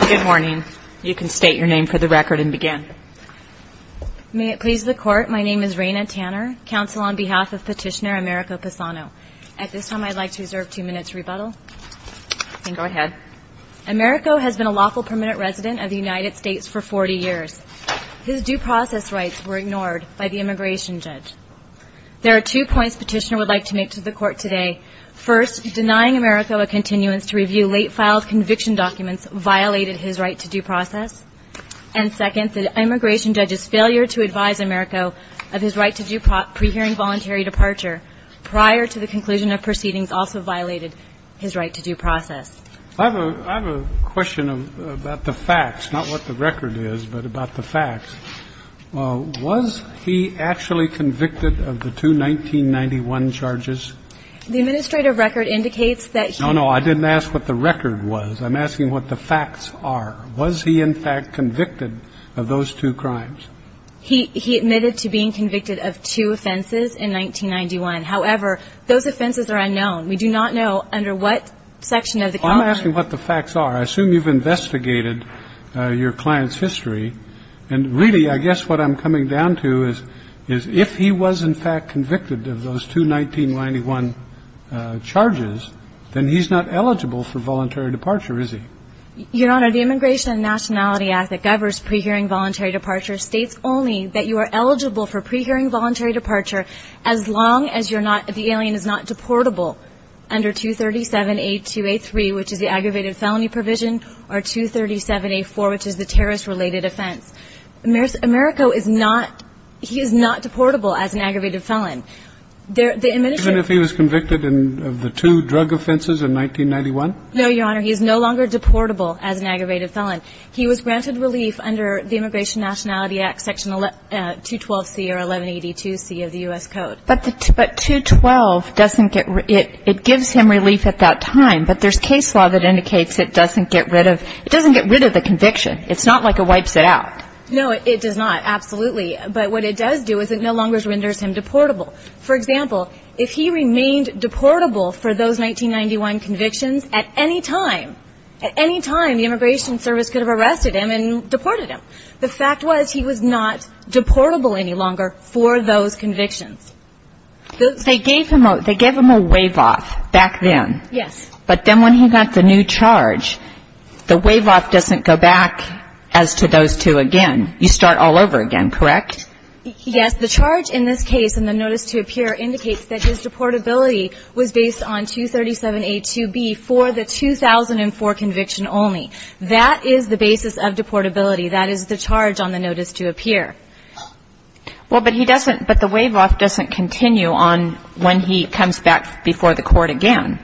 Good morning. You can state your name for the record and begin. May it please the Court, my name is Raina Tanner, counsel on behalf of Petitioner Americo Passano. At this time I'd like to reserve two minutes' rebuttal. Then go ahead. Americo has been a lawful permanent resident of the United States for 40 years. His due process rights were ignored by the immigration judge. There are two points Petitioner would like to make to the Court today. First, denying Americo a continuance to review late-filed conviction documents violated his right to due process. And second, the immigration judge's failure to advise Americo of his right to due pre-hearing voluntary departure prior to the conclusion of proceedings also violated his right to due process. I have a question about the facts, not what the record is, but about the facts. Was he actually convicted of the two 1991 charges? The administrative record indicates that he was. No, no, I didn't ask what the record was. I'm asking what the facts are. Was he in fact convicted of those two crimes? He admitted to being convicted of two offenses in 1991. However, those offenses are unknown. We do not know under what section of the contract. I'm asking what the facts are. I assume you've investigated your client's history. And really, I guess what I'm coming down to is if he was in fact convicted of those two 1991 charges, then he's not eligible for voluntary departure, is he? Your Honor, the Immigration and Nationality Act that governs pre-hearing voluntary departure states only that you are eligible for pre-hearing voluntary departure as long as you're not the alien is not deportable under 237A283, which is the aggravated felony provision, or 237A4, which is the terrorist-related offense. Americo is not he is not deportable as an aggravated felon. Even if he was convicted of the two drug offenses in 1991? No, Your Honor. He is no longer deportable as an aggravated felon. He was granted relief under the Immigration and Nationality Act, Section 212C or 1182C of the U.S. Code. But 212 doesn't get it gives him relief at that time, but there's case law that indicates it doesn't get rid of it doesn't get rid of the conviction. It's not like it wipes it out. No, it does not, absolutely. But what it does do is it no longer renders him deportable. For example, if he remained deportable for those 1991 convictions, at any time, at any time the Immigration Service could have arrested him and deported him. The fact was he was not deportable any longer for those convictions. They gave him a wave-off back then. Yes. But then when he got the new charge, the wave-off doesn't go back as to those two again. You start all over again, correct? Yes. The charge in this case in the notice to appear indicates that his deportability was based on 237A2B for the 2004 conviction only. That is the basis of deportability. That is the charge on the notice to appear. Well, but he doesn't the wave-off doesn't continue on when he comes back before the court again.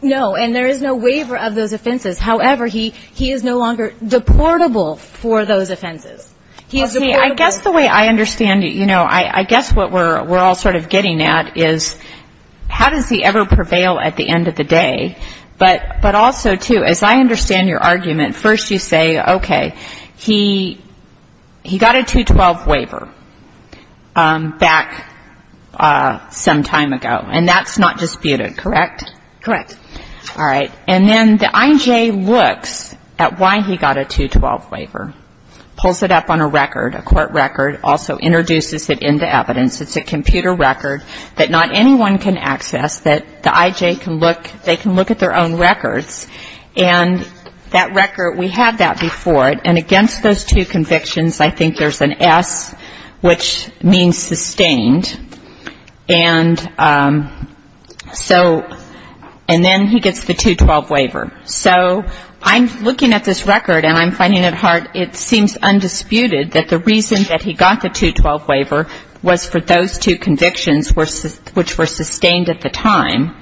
No, and there is no waiver of those offenses. However, he is no longer deportable for those offenses. He is deportable. I guess the way I understand it, you know, I guess what we're all sort of getting at is how does he ever prevail at the end of the day, but also, too, as I understand your argument, first you say, okay, he got a 212 waiver back some time ago, and that's not disputed, correct? Correct. All right. And then the IJ looks at why he got a 212 waiver, pulls it up on a record, a court record, also introduces it into evidence. It's a computer record that not anyone can access, that the IJ can look, they have that before it, and against those two convictions, I think there's an S, which means sustained, and so and then he gets the 212 waiver. So I'm looking at this record, and I'm finding it hard, it seems undisputed that the reason that he got the 212 waiver was for those two convictions which were sustained at the time,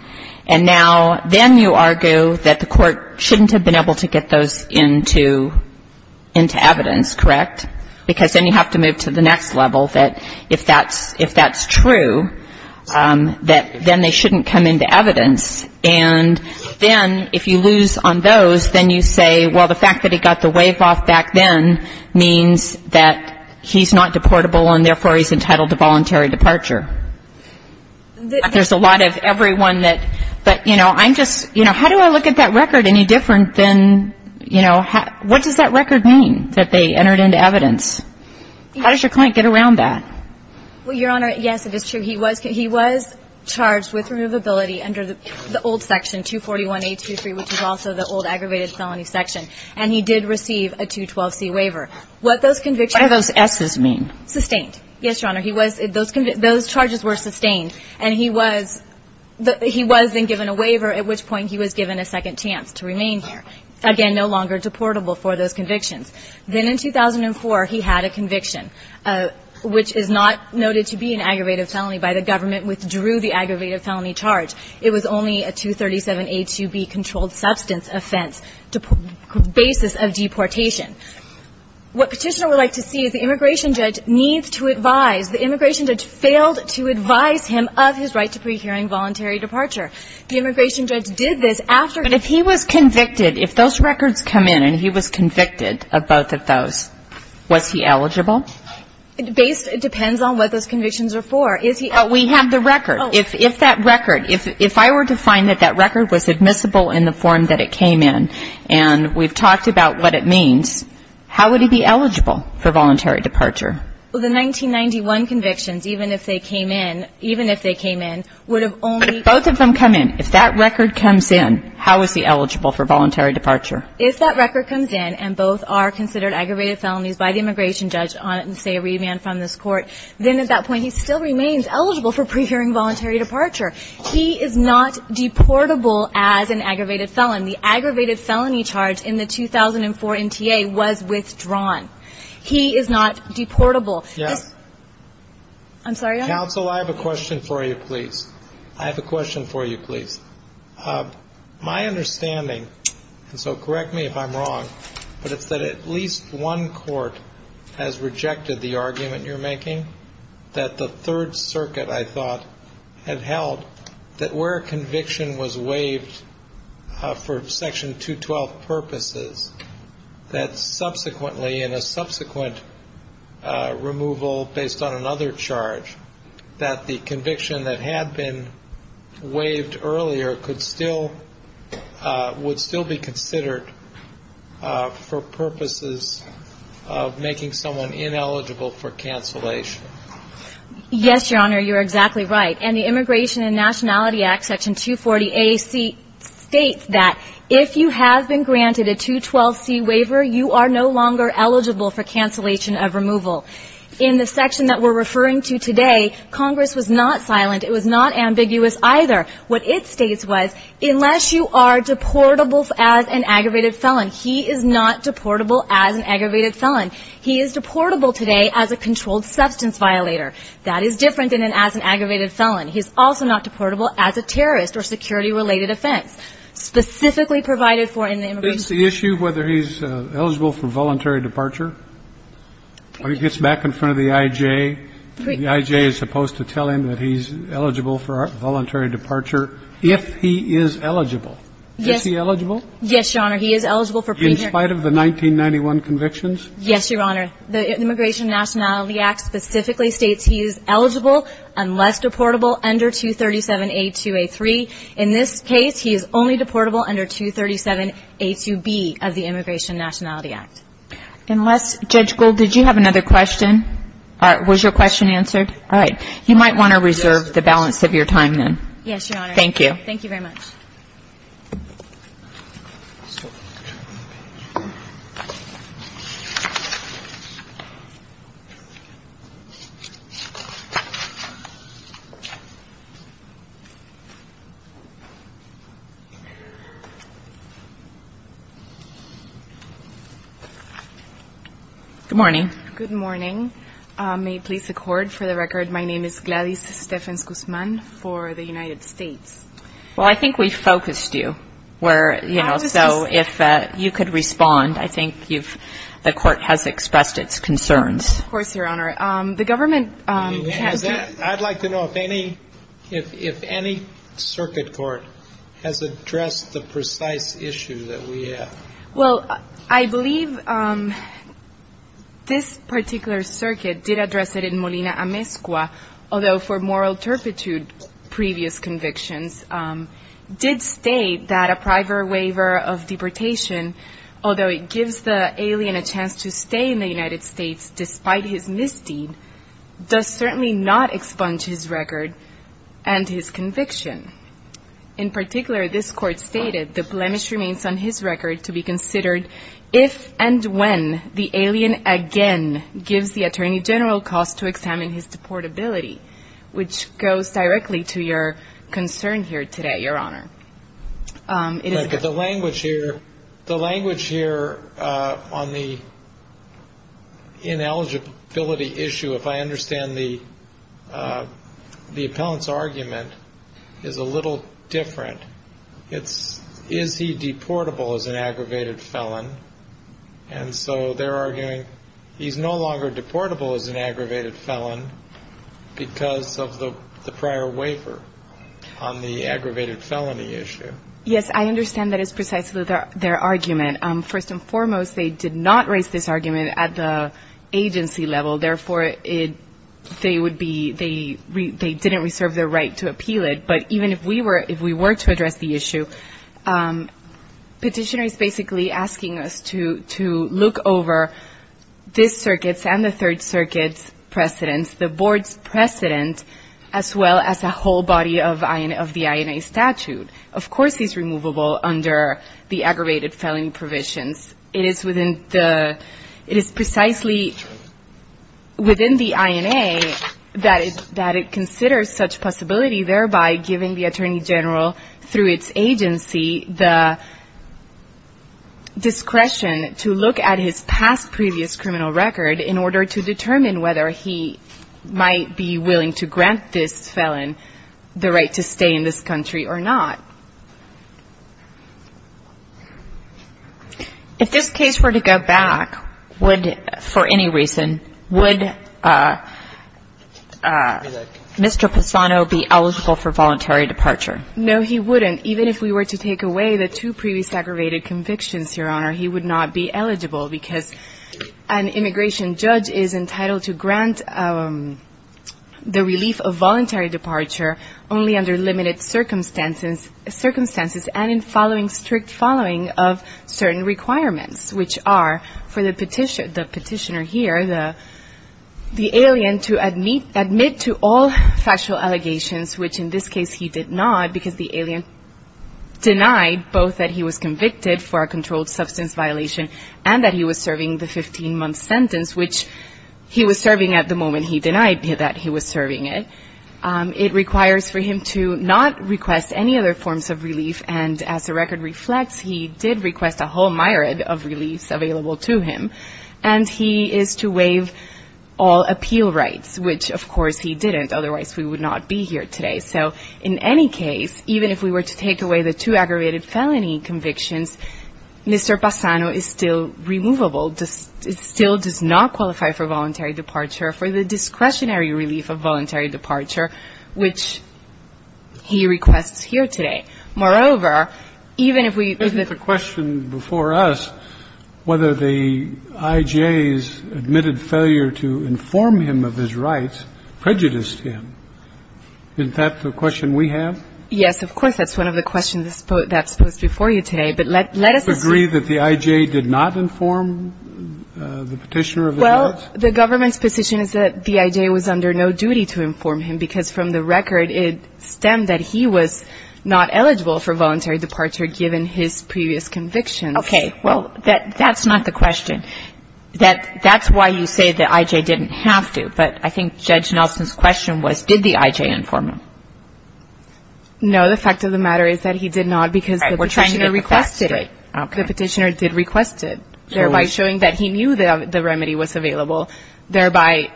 and now then you argue that the court shouldn't have been able to get those into evidence, correct? Because then you have to move to the next level, that if that's true, that then they shouldn't come into evidence, and then if you lose on those, then you say, well, the fact that he got the waive off back then means that he's not deportable, and therefore he's entitled to voluntary departure. There's a lot of everyone that, but, you know, I'm just, you know, how do I look at that record any different than, you know, what does that record mean, that they entered into evidence? How does your client get around that? Well, Your Honor, yes, it is true. He was charged with removability under the old section, 241A23, which is also the old aggravated felony section, and he did receive a 212C waiver. What those convictions mean. What do those S's mean? Sustained. Yes, Your Honor. He was, those charges were sustained, and he was then given a waiver, at which point he was given a second chance to remain here. Again, no longer deportable for those convictions. Then in 2004, he had a conviction, which is not noted to be an aggravated felony by the government, withdrew the aggravated felony charge. It was only a 237A2B controlled substance offense basis of deportation. What Petitioner would like to see is the immigration judge needs to advise, the immigration judge failed to advise him of his right to pre-hearing voluntary departure. The immigration judge did this after he was convicted. But if he was convicted, if those records come in and he was convicted of both of those, was he eligible? It depends on what those convictions are for. Is he eligible? We have the record. If that record, if I were to find that that record was admissible in the form that it came in, and we've talked about what it means, how would he be eligible for voluntary departure? Well, the 1991 convictions, even if they came in, even if they came in, would have only been. Both of them come in. If that record comes in, how is he eligible for voluntary departure? If that record comes in and both are considered aggravated felonies by the immigration judge on, say, a remand from this court, then at that point, he still remains eligible for pre-hearing voluntary departure. He is not deportable as an aggravated felon. The aggravated felony charge in the 2004 MTA was withdrawn. He is not deportable. Yes. I'm sorry. Counsel, I have a question for you, please. I have a question for you, please. My understanding, and so correct me if I'm wrong, but it's that at least one court has rejected the argument you're making, that the Third Circuit, I thought, had waived for Section 212 purposes, that subsequently, in a subsequent removal based on another charge, that the conviction that had been waived earlier could still be considered for purposes of making someone ineligible for cancellation. Yes, Your Honor. You're exactly right. And the Immigration and Nationality Act, Section 240A states that if you have been granted a 212C waiver, you are no longer eligible for cancellation of removal. In the section that we're referring to today, Congress was not silent. It was not ambiguous either. What it states was, unless you are deportable as an aggravated felon, he is not deportable as an aggravated felon. He is deportable today as a controlled substance violator. That is different than as an aggravated felon. He is also not deportable as a terrorist or security-related offense. Specifically provided for in the Immigration and Nationality Act. Is the issue whether he's eligible for voluntary departure? It gets back in front of the I.J. The I.J. is supposed to tell him that he's eligible for voluntary departure if he is eligible. Yes. Is he eligible? Yes, Your Honor. He is eligible for premarital. In spite of the 1991 convictions? Yes, Your Honor. The Immigration and Nationality Act specifically states he is eligible unless deportable under 237A2A3. In this case, he is only deportable under 237A2B of the Immigration and Nationality Act. Unless, Judge Gould, did you have another question? All right. Was your question answered? All right. You might want to reserve the balance of your time then. Yes, Your Honor. Thank you. Thank you very much. Good morning. Good morning. May it please the Court, for the record, my name is Gladys Stephens-Guzman for the United States. Well, I think we focused you where, you know, so if you could respond, I think you've, the Court has expressed its concerns. Of course, Your Honor. The government has. I'd like to know if any, if any circuit court has addressed the precise issue that we have. Well, I believe this particular circuit did address it in Molina Amezcua, although for moral turpitude, previous convictions did state that a private waiver of deportation, although it gives the alien a chance to stay in the United States despite his misdeed, does certainly not expunge his record and his conviction. In particular, this Court stated the blemish remains on his record to be considered if and when the alien again gives the Attorney General cause to examine his deportability, which goes directly to your concern here today, Your Honor. But the language here, the language here on the ineligibility issue, if I understand the, the appellant's argument is a little different. It's, is he deportable as an aggravated felon? And so they're arguing he's no longer deportable as an aggravated felon because of the prior waiver on the aggravated felony issue. Yes, I understand that is precisely their argument. First and foremost, they did not raise this argument at the agency level. Therefore, it, they would be, they didn't reserve their right to appeal it. But even if we were, if we were to address the issue, petitioners basically asking us to, to look over this circuit's and the third circuit's precedents, the board's precedent, as well as a whole body of the INA statute. Of course, he's removable under the aggravated felony provisions. It is within the, it is precisely within the INA that it, it considers such possibility, thereby giving the Attorney General, through its agency, the discretion to look at his past, previous criminal record in order to determine whether he might be willing to grant this felon the right to stay in this country or not. If this case were to go back, would, for any reason, would, Mr. Pisano be eligible for voluntary departure? No, he wouldn't. Even if we were to take away the two previous aggravated convictions, Your Honor, he would not be eligible because an immigration judge is entitled to grant the relief of voluntary departure only under limited circumstances, circumstances and in following strict following of certain requirements, which are for the petitioner, the petitioner here, the, the alien to admit to all factual allegations, which in this case he did not because the alien denied both that he was convicted for a controlled substance violation and that he was serving the 15-month sentence, which he was serving at the moment he denied that he was serving it. It requires for him to not request any other forms of relief. And as the record reflects, he did request a whole myriad of reliefs available to him. And he is to waive all appeal rights, which, of course, he didn't. Otherwise, we would not be here today. So in any case, even if we were to take away the two aggravated felony convictions, Mr. Pisano is still removable. It still does not qualify for voluntary departure for the discretionary relief of voluntary departure, which he requests here today. Moreover, even if we Isn't the question before us whether the I.J.'s admitted failure to inform him of his rights prejudiced him? Isn't that the question we have? Yes, of course. That's one of the questions that's posed before you today. But let us Agree that the I.J. did not inform the petitioner of his rights? Well, the government's position is that the I.J. was under no duty to inform him because from the record, it stemmed that he was not eligible for voluntary departure given his previous convictions. Okay. Well, that's not the question. That's why you say the I.J. didn't have to. But I think Judge Nelson's question was, did the I.J. inform him? No. The fact of the matter is that he did not because the petitioner requested it. The petitioner did request it, thereby showing that he knew the remedy was available, thereby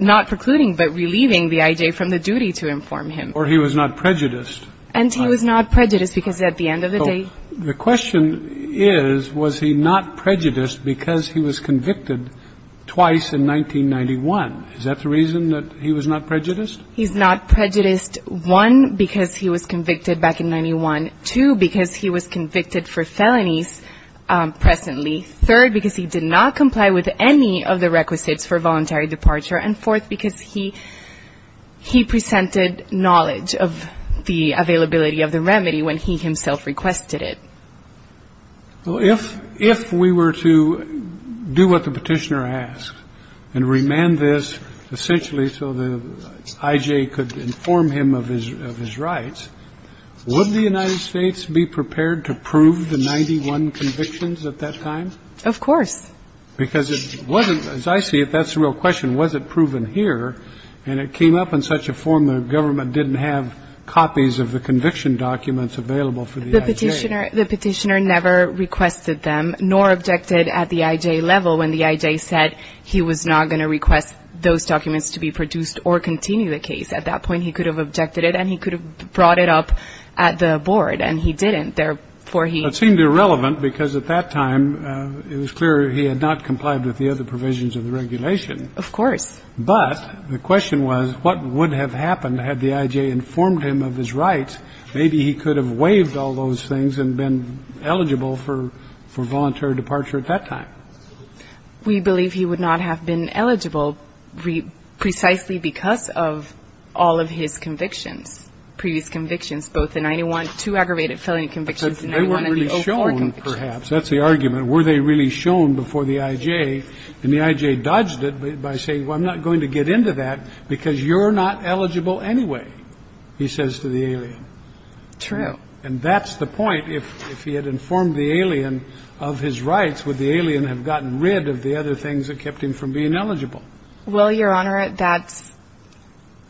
not precluding but relieving the I.J. from the duty to inform him. Or he was not prejudiced. And he was not prejudiced because at the end of the day he The question is, was he not prejudiced because he was convicted twice in 1991? Is that the reason that he was not prejudiced? He's not prejudiced, one, because he was convicted back in 91, two, because he was convicted for felonies presently. Third, because he did not comply with any of the requisites for voluntary departure. And fourth, because he presented knowledge of the availability of the remedy when he himself requested it. Well, if we were to do what the petitioner asked and remand this essentially so the I.J. could inform him of his rights, would the United States be prepared to prove the 91 convictions at that time? Of course. Because it wasn't, as I see it, that's the real question, was it proven here? And it came up in such a form the government didn't have copies of the conviction documents available for the I.J. The petitioner never requested them nor objected at the I.J. level when the I.J. said he was not going to request those documents to be produced or continue the case. At that point he could have objected it and he could have brought it up at the board and he didn't, therefore he. It seemed irrelevant because at that time it was clear he had not complied with the other provisions of the regulation. Of course. But the question was what would have happened had the I.J. informed him of his rights? Maybe he could have waived all those things and been eligible for voluntary departure at that time. We believe he would not have been eligible precisely because of all of his convictions, all of his previous convictions, both the 91, two aggravated felony convictions and the 01 and the 04 convictions. Because they weren't really shown, perhaps. That's the argument. Were they really shown before the I.J.? And the I.J. dodged it by saying, well, I'm not going to get into that because you're not eligible anyway, he says to the alien. True. And that's the point. If he had informed the alien of his rights, would the alien have gotten rid of the other things that kept him from being eligible? Well, Your Honor,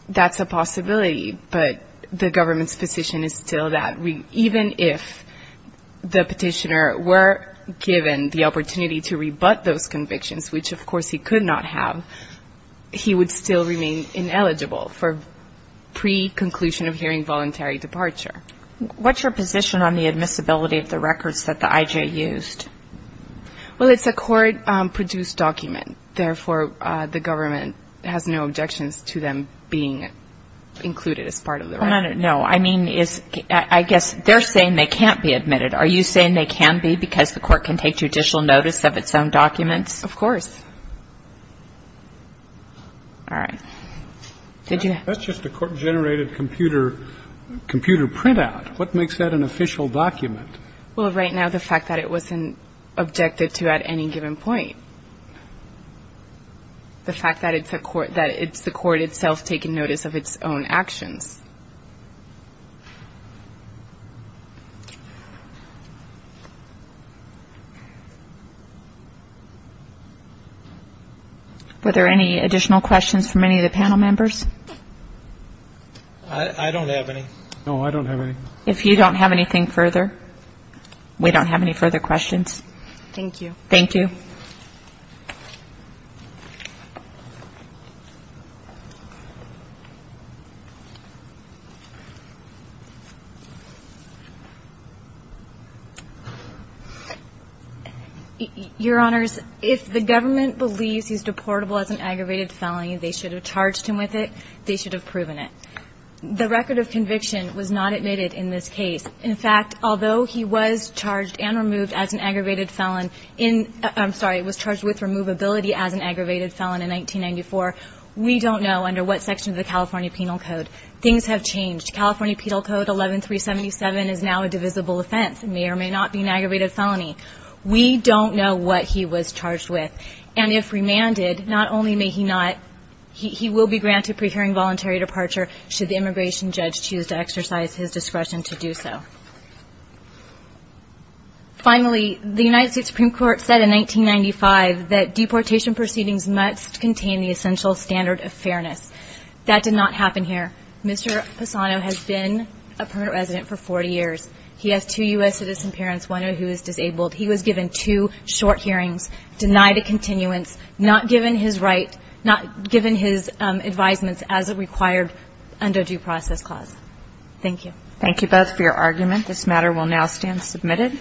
that's a possibility. But the government's position is still that even if the petitioner were given the opportunity to rebut those convictions, which of course he could not have, he would still remain ineligible for pre-conclusion of hearing voluntary departure. What's your position on the admissibility of the records that the I.J. used? Well, it's a court-produced document. Therefore, the government has no objections to them being included as part of the record. No, I mean, I guess they're saying they can't be admitted. Are you saying they can be because the court can take judicial notice of its own documents? Of course. All right. That's just a court-generated computer printout. What makes that an official document? Well, right now, the fact that it wasn't objected to at any given point. The fact that it's the court itself taking notice of its own actions. Were there any additional questions from any of the panel members? I don't have any. No, I don't have any. If you don't have anything further, we don't have any further questions. Thank you. Thank you. Your Honors, if the government believes he's deportable as an aggravated felony, they should have charged him with it. They should have proven it. The record of conviction was not admitted in this case. In fact, although he was charged and removed as an aggravated felon from the I'm sorry, he was charged with removability as an aggravated felon in 1994. We don't know under what section of the California Penal Code. Things have changed. California Penal Code 11377 is now a divisible offense. It may or may not be an aggravated felony. We don't know what he was charged with. And if remanded, not only may he not, he will be granted pre-hearing voluntary departure should the immigration judge choose to exercise his discretion to do so. Finally, the United States Supreme Court said in 1995 that deportation proceedings must contain the essential standard of fairness. That did not happen here. Mr. Passano has been a permanent resident for 40 years. He has two U.S. citizen parents, one of whom is disabled. He was given two short hearings, denied a continuance, not given his right, not given his advisements as a required undue process clause. Thank you. Thank you both for your argument. This matter will now stand submitted.